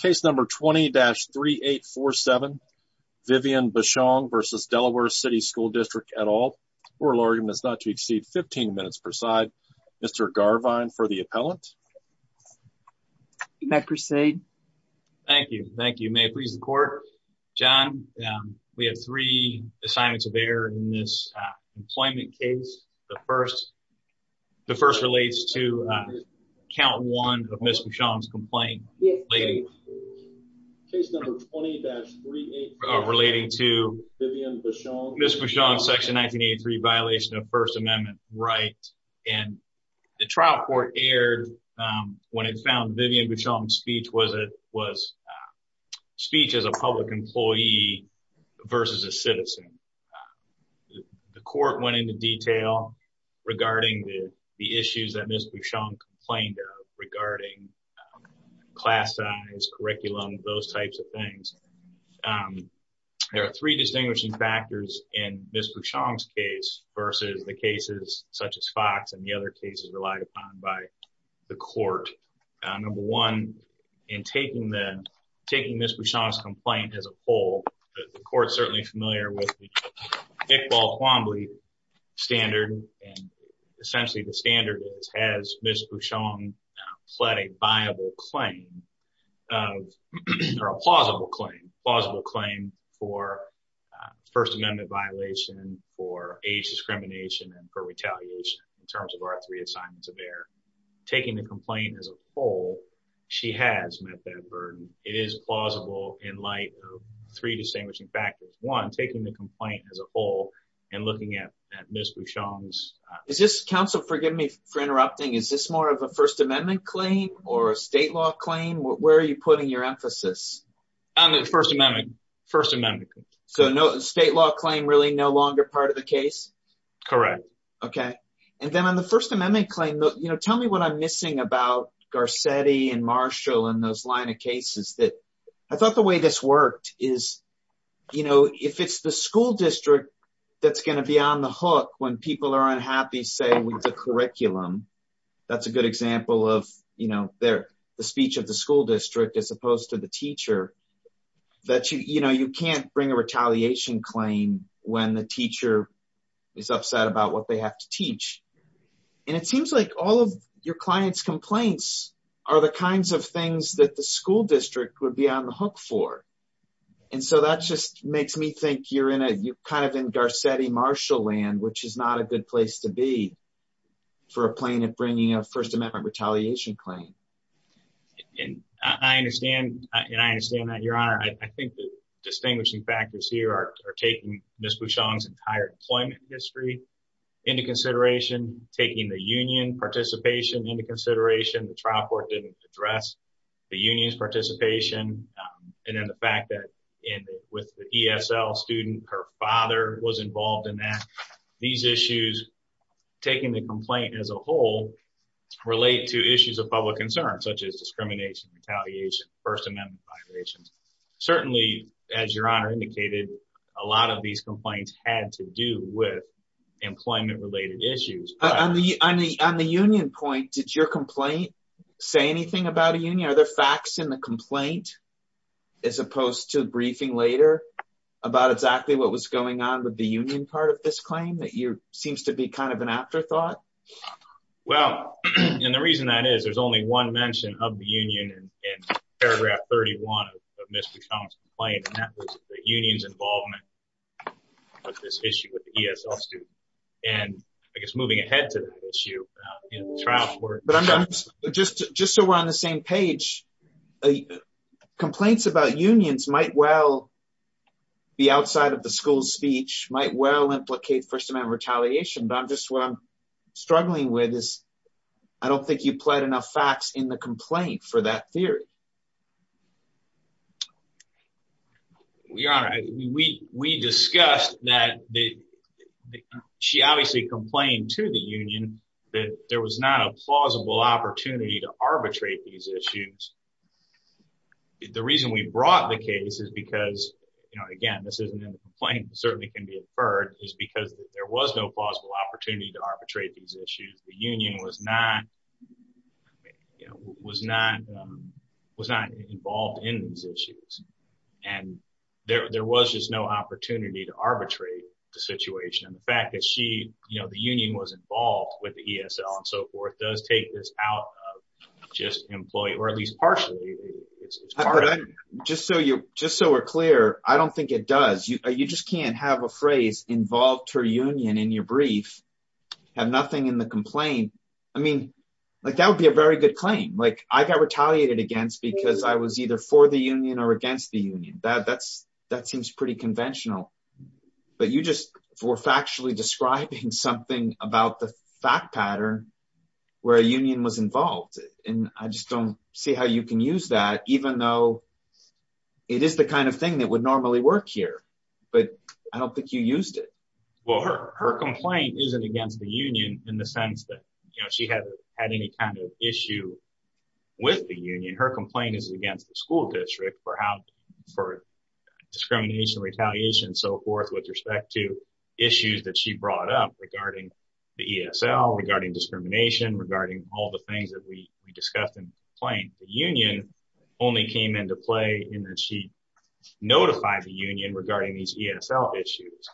Case number 20-3847, Viviane Bushong v. Delaware City School District et al. Oral argument is not to exceed 15 minutes per side. Mr. Garvine for the appellant. May I proceed? Thank you. Thank you. May it please the court. John, we have three assignments of error in this employment case. The first relates to count one of Ms. Bushong's complaint relating to Ms. Bushong's section 1983 violation of First Amendment rights. And the trial court aired when it found Viviane Bushong's speech was speech as a public employee versus a citizen. The court went into detail regarding the issues that Ms. Bushong complained of regarding class size, curriculum, those types of things. There are three distinguishing factors in Ms. Bushong's case versus the cases such as Fox and the other cases relied upon by the court. Number one, in taking Ms. Bushong's complaint as a whole, the court is certainly familiar with the Iqbal-Quambley standard. And essentially, the standard is, has Ms. Bushong pled a plausible claim for First Amendment violation, for age discrimination, and for retaliation in terms of our three assignments of error. Taking the complaint as a whole, she has met that burden. It is plausible in light of three distinguishing factors. One, taking the complaint as a whole and looking at Ms. Bushong's... Counsel, forgive me for interrupting. Is this more of a First Amendment claim or a state law claim? Where are you putting your emphasis? On the First Amendment. First Amendment. So no state law claim really no longer part of the case? Correct. Okay. And then on the First Amendment claim, tell me what I'm missing about Garcetti and Marshall and those line of cases that... I thought the way this worked is, if it's the school district that's going to be on the hook when people are unhappy, say, with the curriculum, that's a good example of the speech of the school district as opposed to the teacher, that you can't bring a retaliation claim when the teacher is upset about what they have to teach. And it seems like all of your client's complaints are the kinds of things that the school district would be on the hook for. And so that just makes me think you're kind of in Garcetti-Marshall land, which is not a good place to be for a plaintiff bringing a First Amendment retaliation claim. And I understand that, Your Honor. I think the distinguishing factors here are taking Ms. Bouchong's entire employment history into consideration, taking the union participation into consideration. The trial court didn't address the union's participation. And then the fact that with the ESL student, her father was involved in that. These issues, taking the complaint as a whole, relate to issues of public concern, such as discrimination, retaliation, First Amendment violations. Certainly, as Your Honor indicated, a lot of these complaints had to do with employment-related issues. On the union point, did your complaint say anything about a union? Are there facts in the complaint as opposed to briefing later about exactly what was going on with the union part of this claim that seems to be kind of an afterthought? Well, and the reason that is, there's only one mention of the union in paragraph 31 of Ms. Bouchong's complaint, and that was the union's involvement with this issue with the ESL student. And I guess moving ahead to that issue in the trial court. But I'm just so we're on the same page. Complaints about unions might well be outside of the school's speech, might well implicate First Amendment retaliation. But I'm just, what I'm struggling with is, I don't think you pled enough facts in the complaint for that theory. Your Honor, we discussed that she obviously complained to the union that there was not a Again, this isn't in the complaint, it certainly can be inferred, is because there was no plausible opportunity to arbitrate these issues. The union was not involved in these issues. And there was just no opportunity to arbitrate the situation. And the fact that she, the union was involved with the ESL and so forth, does take this out of just employee, or at least partially. However, just so we're clear, I don't think it does. You just can't have a phrase involved her union in your brief, have nothing in the complaint. I mean, that would be a very good claim. I got retaliated against because I was either for the union or against the union. That seems pretty conventional. But you just were factually describing something about the fact pattern where a union was involved. And I just don't see how you can use that even though it is the kind of thing that would normally work here. But I don't think you used it. Well, her complaint isn't against the union in the sense that she had any kind of issue with the union. Her complaint is against the school district for discrimination, retaliation, so forth, with respect to issues that she brought up regarding the ESL, regarding discrimination, regarding all the things that we discussed in the complaint. The union only came into play in that she notified the union regarding these ESL issues.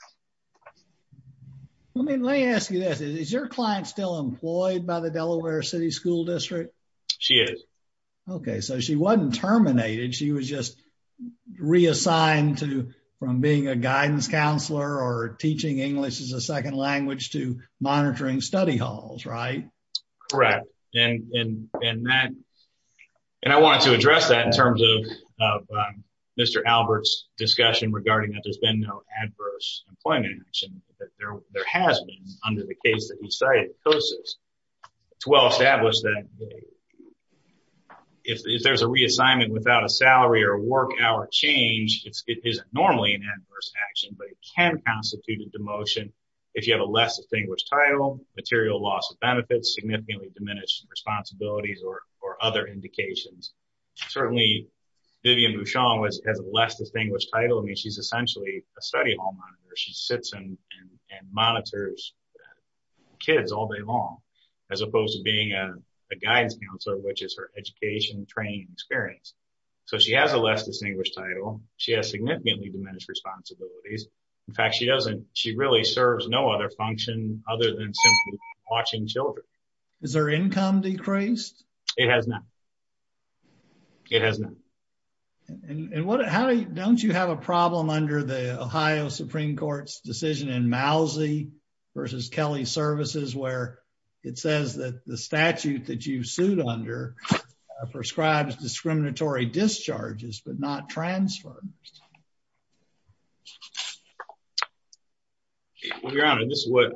Let me ask you this. Is your client still employed by the Delaware City School District? She is. Okay, so she wasn't terminated. She was just reassigned from being a guidance counselor or teaching English as a second language to monitoring study halls, right? Correct. And I wanted to address that in terms of Mr. Albert's discussion regarding that there's been no adverse employment action. There has been under the case that he cited. It's well established that if there's a reassignment without a salary or work hour change, it isn't normally an adverse action, but it can constitute a demotion if you have a less distinguished title, material loss of benefits, significantly diminished responsibilities, or other indications. Certainly, Vivian Bouchon has a less distinguished title. I mean, she's essentially a study hall monitor. She sits and monitors kids all day long, as opposed to being a guidance counselor, which is her education, training, and experience. So, she has a less distinguished title. She has significantly diminished responsibilities. In fact, she doesn't, she really serves no other function other than simply watching children. Is her income decreased? It has not. It has not. And what, how, don't you have a problem under the Ohio Supreme Court's decision in Mousie versus Kelly Services, where it says that the statute that you sued under prescribes discriminatory discharges, but not transfers? Well, Your Honor, this is what,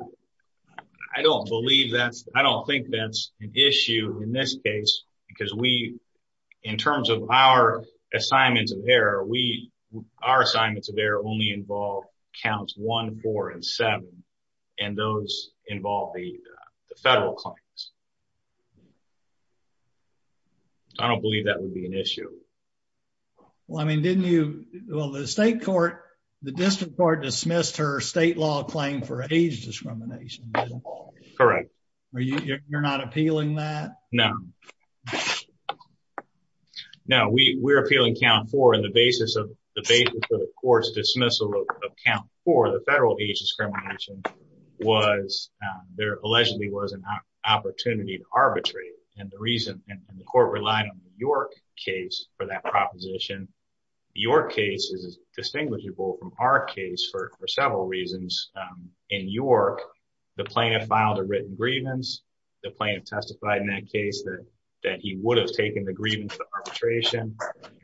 I don't believe that's, I don't think that's an issue in this case, because we, in terms of our assignments of error, we, our assignments of error only involve counts one, four, and seven, and those involve the federal claims. I don't believe that would be an issue. Well, I mean, didn't you, well, the state court, the district court dismissed her state law claim for age discrimination. Correct. Are you, you're not appealing that? No. No, we, we're appealing count four, and the basis of, the basis for the court's dismissal of count four, the federal age discrimination, was, there allegedly was an opportunity to arbitrate, and the reason, and the court relied on the York case for that proposition. The York case is distinguishable from our case for several reasons. In York, the plaintiff filed a written grievance. The plaintiff testified in that case that, that he would have taken the grievance of arbitration.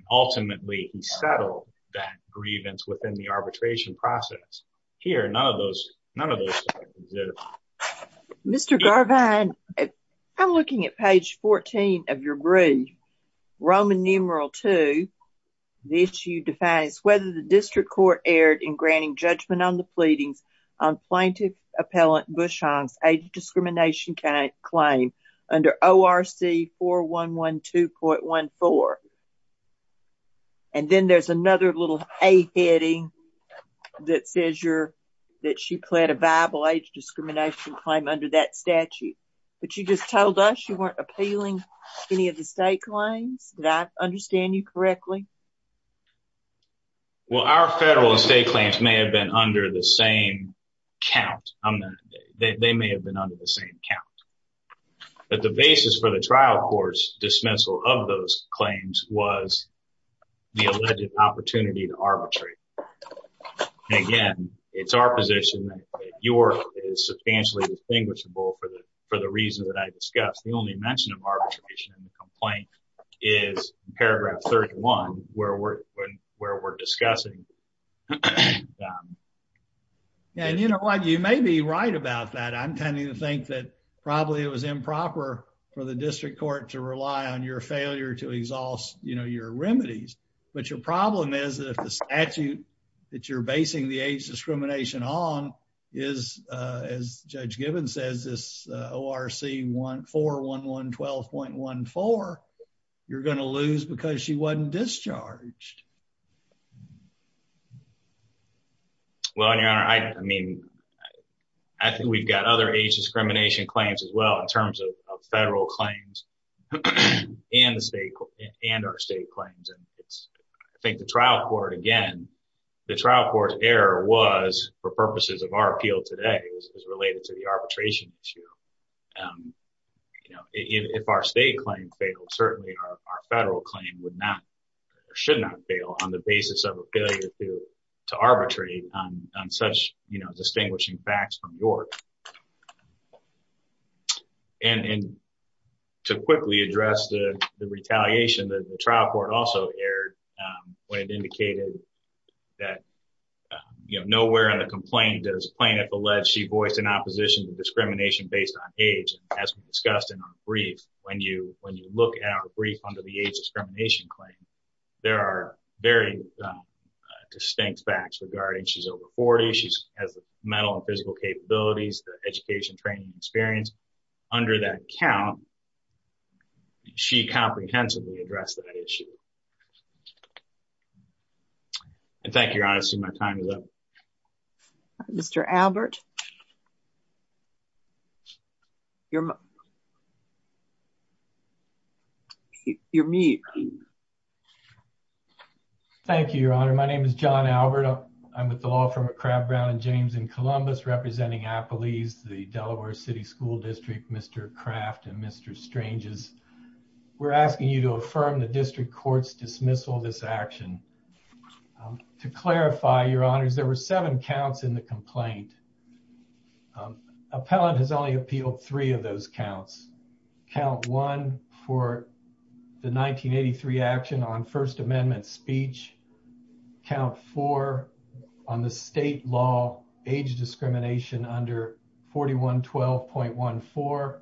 Ultimately, he settled that grievance within the arbitration process. Here, none of those, none of those. Mr. Garvine, I'm looking at page 14 of your brief, Roman numeral two. The issue defines whether the district court erred in granting judgment on the pleadings on plaintiff appellant Bushong's age discrimination claim under ORC 4112.14. And then there's another little A heading that says you're, that she pled a viable age discrimination claim under that statute, but you just told us you weren't appealing any of the state claims. Did I understand you correctly? Well, our federal and state claims may have been under the same count. They may have been under the same count, but the basis for the trial court's dismissal of those claims was the alleged opportunity to arbitrate. And again, it's our position that York is substantially distinguishable for the, for the reason that I discussed. The only mention of arbitration in the complaint is paragraph 31, where we're, where we're discussing. And you know what, you may be right about that. I'm tending to think that probably it was improper for the district court to rely on your failure to exhaust, you know, your remedies. But your problem is that if the statute that you're basing the age discrimination on is, as Judge Gibbons says, this ORC 41112.14, you're going to lose because she wasn't discharged. Well, and your honor, I mean, I think we've got other age discrimination claims as well in terms of federal claims and the state and our state claims. And it's, I think the trial court, again, the trial court's error was for purposes of our appeal today is related to the arbitration issue. You know, if our state claim failed, certainly our federal claim would not or should not fail on the basis of a failure to arbitrate on such, you know, distinguishing facts from York. And to quickly address the retaliation, the trial court also erred when it indicated that you know, nowhere in the complaint does plaintiff allege she voiced an opposition to discrimination based on age. And as we discussed in our brief, when you look at our brief under the age discrimination claim, there are very distinct facts regarding she's over 40, she has the mental and physical capabilities, the education training experience. Under that count, she comprehensively addressed that issue. And thank you, Your Honor, I see my time is up. Mr. Albert. You're mute. Thank you, Your Honor. My name is John Albert. I'm with the law firm at Crab Brown and James in Columbus, representing Appalese, the Delaware City School District, Mr. Craft and Mr. Stranges. We're asking you to affirm the district court's dismissal of this action. To clarify, Your Honors, there were seven counts in the complaint. Appellant has only appealed three of those counts. Count one for the 1983 action on First Amendment speech, count four on the state law age discrimination under 4112.14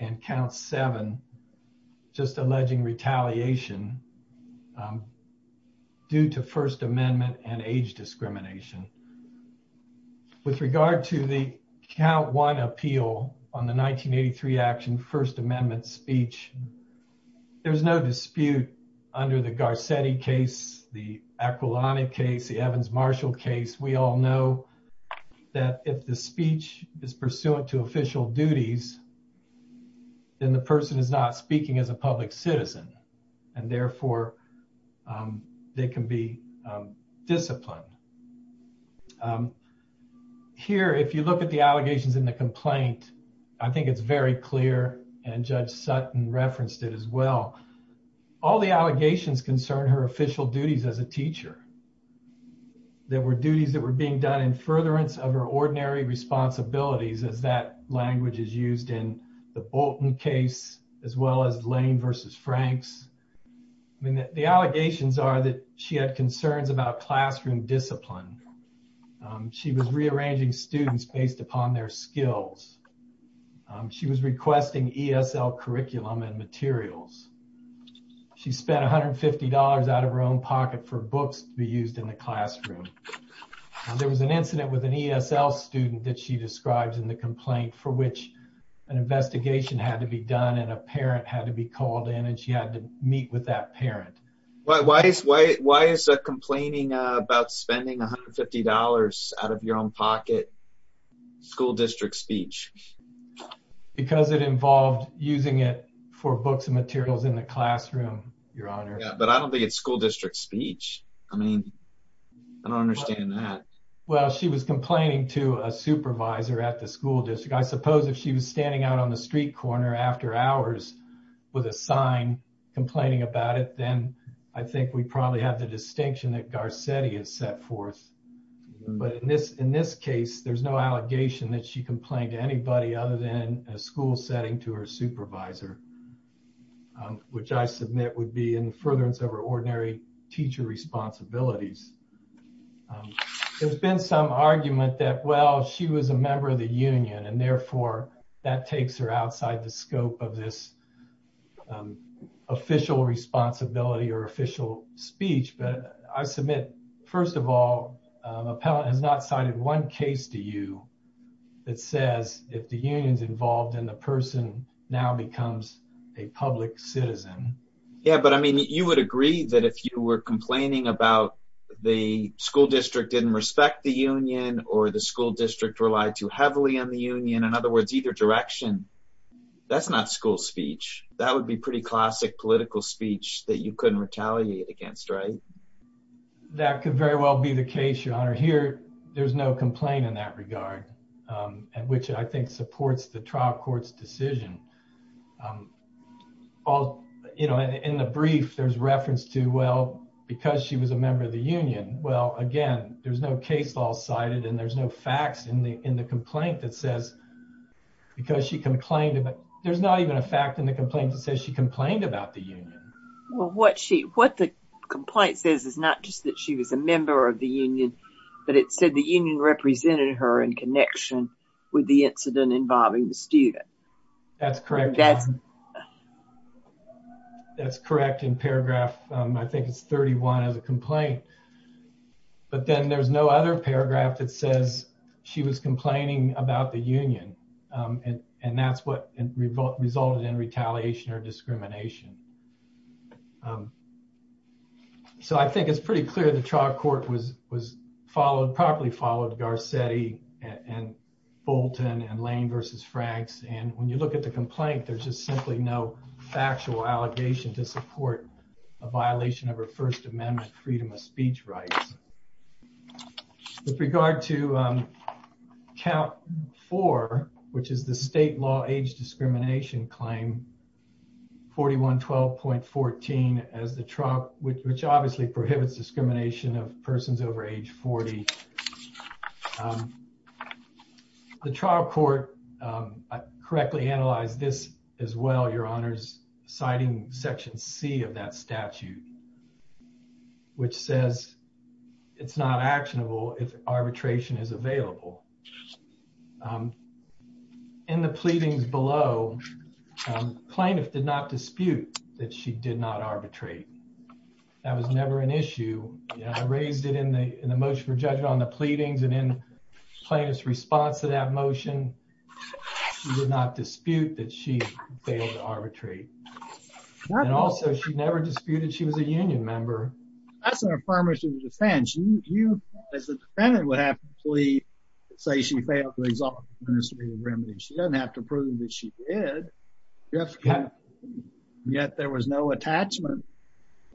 and count seven, just alleging retaliation due to First Amendment and age discrimination. With regard to the count one appeal on the 1983 action First Amendment speech, there's no dispute under the Garcetti case, the Aquilani case, the Evans-Marshall case. We all know that if the speech is pursuant to official duties, then the person is not speaking as a public citizen and therefore they can be disciplined. Here, if you look at the allegations in the complaint, I think it's very clear and Judge Sutton referenced it as well. All the allegations concern her official duties as a teacher. There were duties that were being done in furtherance of her ordinary responsibilities as that language is used in the Bolton case as well as Lane versus Franks. The allegations are that she had concerns about classroom discipline. She was rearranging students based upon their skills. She was requesting ESL curriculum and materials. She spent $150 out of her own pocket for books to be used in the classroom. There was an incident with an ESL student that she describes in the complaint for which an investigation had to be done and a parent had to be called in and she had to meet with that parent. Why is the complaining about spending $150 out of your own pocket school district speech? Because it involved using it for books and materials in the classroom, Your Honor. Yeah, but I don't think it's school district speech. I mean, I don't understand that. Well, she was complaining to a supervisor at the school district. I suppose if she was standing out on the street corner after hours with a sign complaining about it, then I think we probably have the distinction that Garcetti has set forth. But in this case, there's no allegation that she complained to anybody other than a school setting to her supervisor, which I submit would be in furtherance of her ordinary teacher responsibilities. There's been some argument that, well, she was a member of the union and therefore that takes her outside the scope of this official responsibility or official speech. But I submit, first of all, an appellant has not cited one case to you that says if the union's involved and the person now becomes a public citizen. Yeah, but I mean, you would agree that if you were complaining about the school district didn't respect the union or the school district relied too heavily on the union, in other words, either direction, that's not school speech. That would be pretty classic political speech that you couldn't retaliate against, right? That could very well be the case, Your Honor. Here, there's no complaint in that regard, which I think supports the trial court's decision. In the brief, there's reference to, well, because she was a member of the union, well, again, there's no case law cited and there's no facts in the complaint that says because she complained. There's not even a fact in the complaint that says she complained about the union. Well, what the complaint says is not just that she was a member of the union, but it said the union represented her in connection with the incident involving the student. That's correct. That's correct in paragraph, I think it's 31 as a complaint. But then there's no other paragraph that says she was complaining about the union and that's what resulted in retaliation or discrimination. Um, so I think it's pretty clear the trial court was, was followed, properly followed Garcetti and Bolton and Lane versus Franks. And when you look at the complaint, there's just simply no factual allegation to support a violation of her First Amendment freedom of speech rights. With regard to, um, count four, which is the state law age discrimination claim, 41, 12.14 as the trial, which obviously prohibits discrimination of persons over age 40. The trial court, um, correctly analyzed this as well. Your honors citing section C of that statute, which says it's not actionable if arbitration is available. Um, in the pleadings below plaintiff did not dispute that she did not arbitrate. That was never an issue. You know, I raised it in the, in the motion for judgment on the pleadings and in plaintiff's response to that motion, she did not dispute that she failed to arbitrate. And also she never disputed she was a union member. That's an affirmative defense. You, as a defendant, would have to plead to say she failed to exonerate the remedy. She doesn't have to prove that she did. Yet there was no attachment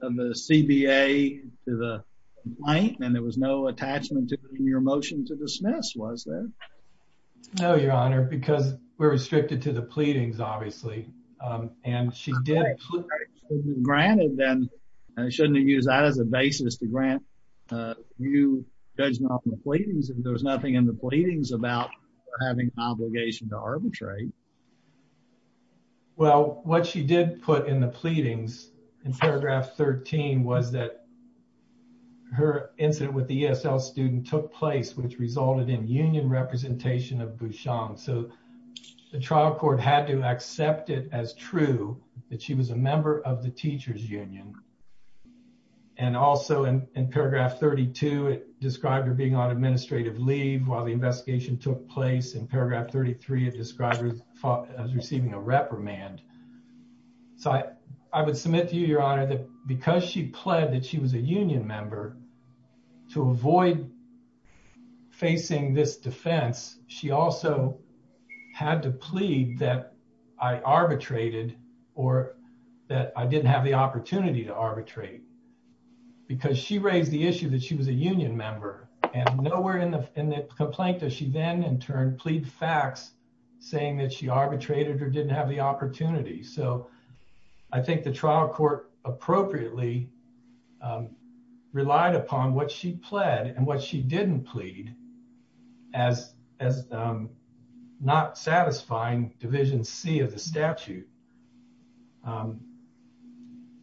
of the CBA to the complaint. And there was no attachment to your motion to dismiss, was there? No, your honor, because we're restricted to the pleadings, obviously. And she did. Granted then, shouldn't you use that as a basis to grant you judgment on the pleadings if there was nothing in the pleadings about having an obligation to arbitrate? Well, what she did put in the pleadings in paragraph 13 was that her incident with the ESL student took place, which resulted in union representation of Bushong. So the trial court had to accept it as true that she was a member of the teacher's union. And also in paragraph 32, it described her being on administrative leave while the investigation took place. In paragraph 33, it described her as receiving a reprimand. So I would submit to you, your honor, that because she pled that she was a union member to avoid facing this defense, she also had to plead that I arbitrated or that I didn't have the opportunity to arbitrate. Because she raised the issue that she was a union member. And nowhere in the complaint does she then, in turn, plead facts saying that she arbitrated or didn't have the opportunity. So I think the trial court appropriately relied upon what she pled and what she didn't plead as not satisfying Division C of the statute.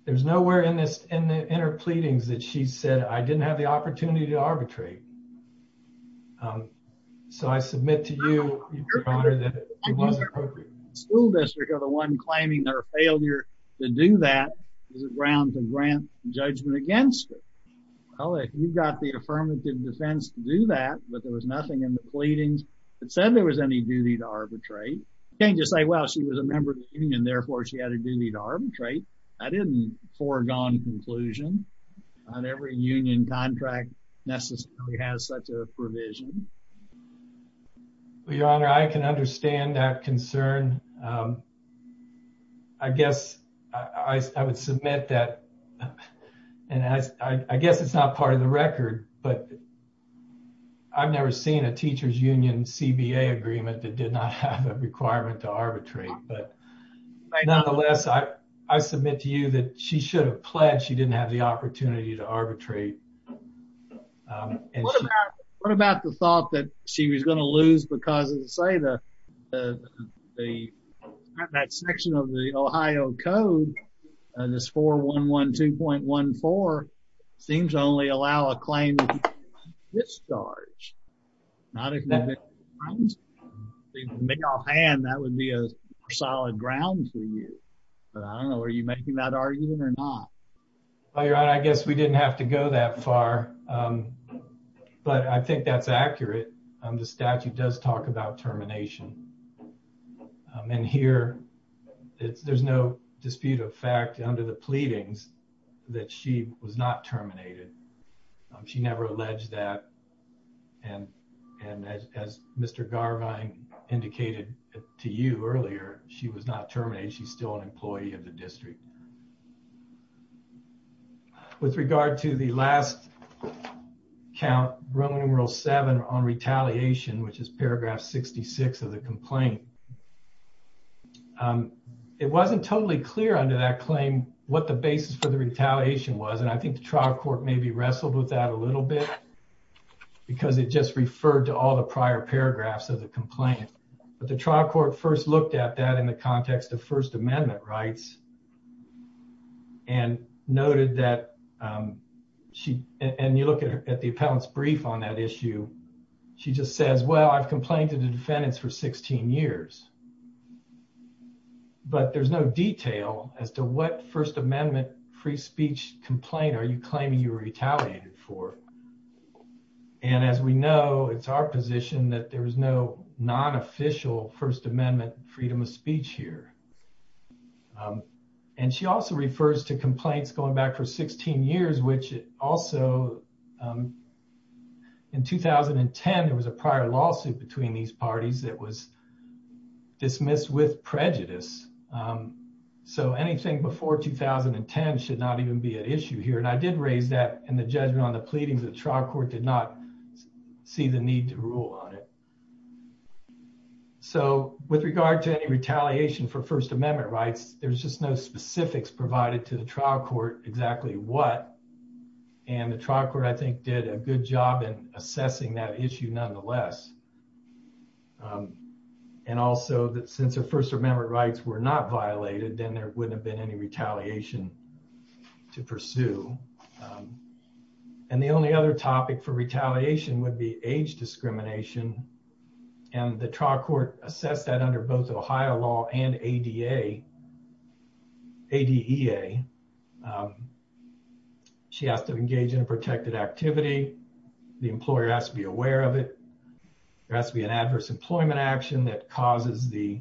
There's nowhere in her pleadings that she said, I didn't have the opportunity to arbitrate. So I submit to you, your honor, that it was appropriate. The school district or the one claiming her failure to do that is a ground to grant judgment against her. Well, if you've got the affirmative defense to do that, but there was nothing in the pleadings that said there was any duty to arbitrate, you can't just say, well, she was a member of the union, therefore she had a duty to arbitrate. I didn't foregone conclusion. Not every union contract necessarily has such a provision. Well, your honor, I can understand that concern. I guess I would submit that, and I guess it's not part of the record, but I've never seen a teacher's union CBA agreement that did not have a requirement to arbitrate. But nonetheless, I submit to you that she should have pled she didn't have the opportunity to arbitrate. What about the thought that she was going to lose because of, say, the section of the Ohio code, this 4112.14, seems to only allow a claim of discharge, not a conviction. If you could make offhand, that would be a solid ground for you. But I don't know, are you making that argument or not? Well, your honor, I guess we didn't have to go that far, but I think that's accurate. The statute does talk about termination. And here, there's no dispute of fact under the pleadings that she was not terminated. She never alleged that. And as Mr. Garvine indicated to you earlier, she was not terminated. She's still an employee of the district. With regard to the last count, Roman numeral VII on retaliation, which is paragraph 66 of the complaint, it wasn't totally clear under that claim what the basis for the retaliation was. And I think the trial court maybe wrestled with that a little bit because it just referred to all the prior paragraphs of the complaint. But the trial court first looked at that in the context of First Amendment rights. And noted that she, and you look at the appellant's brief on that issue, she just says, well, I've complained to the defendants for 16 years. But there's no detail as to what First Amendment free speech complaint are you claiming you were retaliated for. And as we know, it's our position that there was no non-official First Amendment freedom of speech here. And she also refers to complaints going back for 16 years, which also, in 2010, there was a prior lawsuit between these parties that was dismissed with prejudice. So anything before 2010 should not even be an issue here. And I did raise that in the judgment on the pleadings. The trial court did not see the need to rule on it. So with regard to any retaliation for First Amendment rights, there's just no specifics provided to the trial court exactly what. And the trial court, I think, did a good job in assessing that issue nonetheless. And also, since the First Amendment rights were not violated, then there wouldn't have been any retaliation to pursue. And the only other topic for retaliation would be age discrimination. And the trial court assessed that under both Ohio law and ADA, ADEA. She has to engage in a protected activity. The employer has to be aware of it. There has to be an adverse employment action that causes the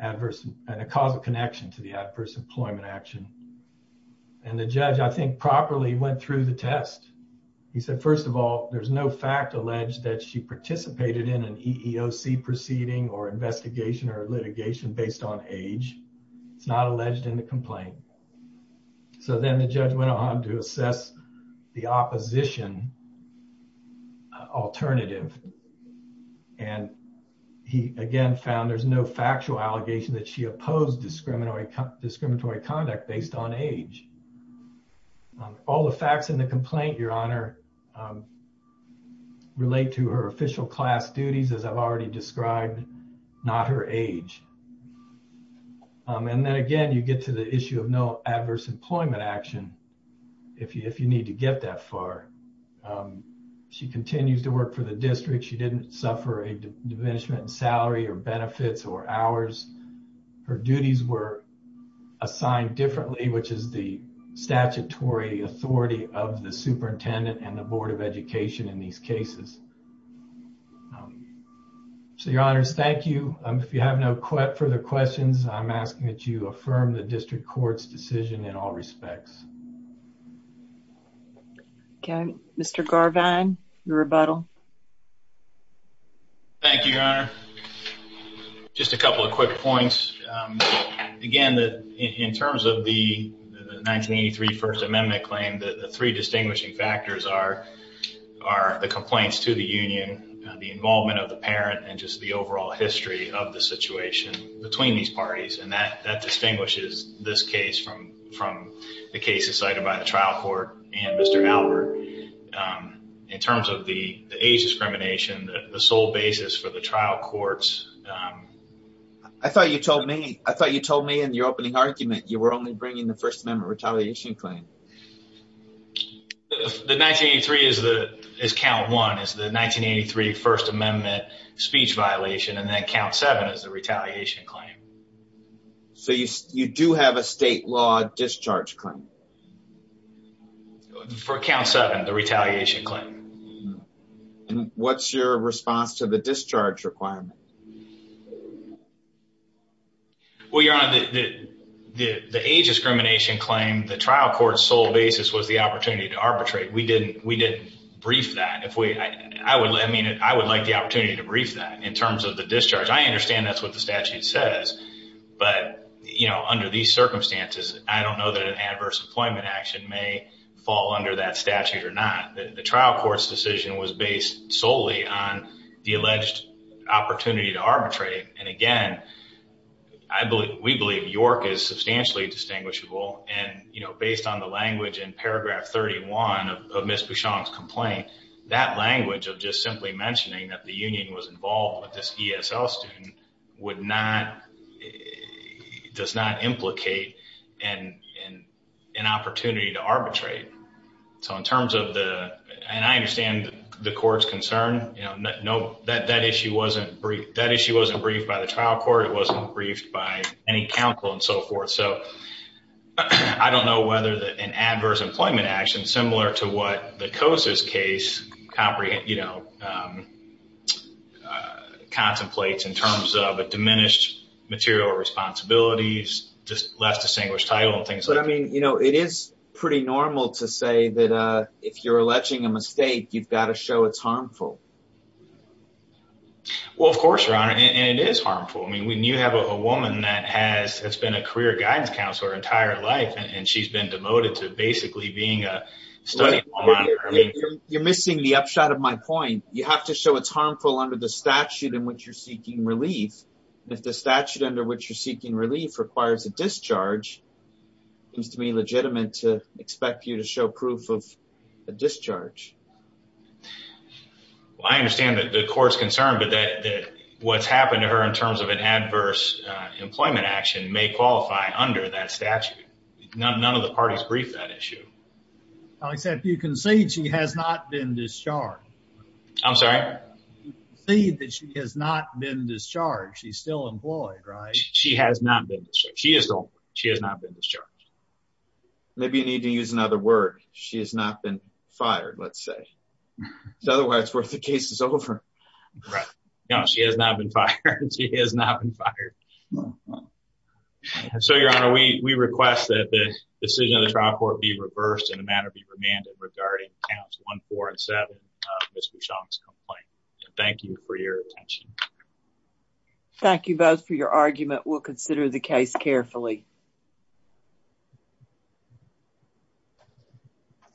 adverse and a causal connection to the adverse employment action. And the judge, I think, properly went through the test. He said, first of all, there's no fact alleged that she participated in an EEOC proceeding or investigation or litigation based on age. It's not alleged in the complaint. So then the judge went on to assess the opposition alternative. And he, again, found there's no factual allegation that she opposed discriminatory conduct based on age. All the facts in the complaint, Your Honor, relate to her official class duties as I've already described, not her age. And then again, you get to the issue of no adverse employment action if you need to get that far. She continues to work for the district. She didn't suffer a diminishment in salary or benefits or hours. Her duties were assigned differently, which is the statutory authority of the superintendent and the Board of Education in these cases. So, Your Honors, thank you. If you have no further questions, I'm asking that you affirm the district court's decision in all respects. OK. Thank you, Your Honor. Just a couple of quick points. Again, in terms of the 1983 First Amendment claim, the three distinguishing factors are the complaints to the union, the involvement of the parent, and just the overall history of the situation between these parties. And that distinguishes this case from the cases cited by the trial court and Mr. Albert. In terms of the age discrimination, the sole basis for the trial courts. I thought you told me in your opening argument you were only bringing the First Amendment retaliation claim. The 1983 is count one, is the 1983 First Amendment speech violation, and then count seven is the retaliation claim. So you do have a state law discharge claim? For count seven, the retaliation claim. And what's your response to the discharge requirement? Well, Your Honor, the age discrimination claim, the trial court's sole basis was the opportunity to arbitrate. We didn't brief that. If we, I would, I mean, I would like the opportunity to brief that in terms of the discharge. I understand that's what the statute says, but, you know, under these circumstances, I may fall under that statute or not. The trial court's decision was based solely on the alleged opportunity to arbitrate. And again, I believe, we believe York is substantially distinguishable. And, you know, based on the language in paragraph 31 of Ms. Bouchon's complaint, that language of just simply mentioning that the union was involved with this ESL student would not, it does not implicate an opportunity to arbitrate. So in terms of the, and I understand the court's concern, you know, that issue wasn't briefed by the trial court. It wasn't briefed by any counsel and so forth. So I don't know whether an adverse employment action, similar to what the COSA's case, you know, contemplates in terms of a diminished material responsibilities, just less distinguished title and things like that. But I mean, you know, it is pretty normal to say that if you're alleging a mistake, you've got to show it's harmful. Well, of course, your honor, and it is harmful. I mean, when you have a woman that has, has been a career guidance counselor her entire life, and she's been demoted to basically being a study. You're missing the upshot of my point. You have to show it's harmful under the statute in which you're seeking relief. And if the statute under which you're seeking relief requires a discharge, it seems to me legitimate to expect you to show proof of a discharge. Well, I understand that the court's concerned, but that what's happened to her in terms of an adverse employment action may qualify under that statute. None of the parties briefed that issue. I said, you can say she has not been discharged. I'm sorry. See that she has not been discharged. She's still employed, right? She has not been. She is. She has not been discharged. Maybe you need to use another word. She has not been fired. Let's say otherwise worth the case is over. Right now. She has not been fired. She has not been fired. No. So, Your Honor, we request that the decision of the trial court be reversed in a manner be remanded regarding counts one, four and seven of Ms. Bouchon's complaint. Thank you for your attention. Thank you both for your argument. We'll consider the case carefully.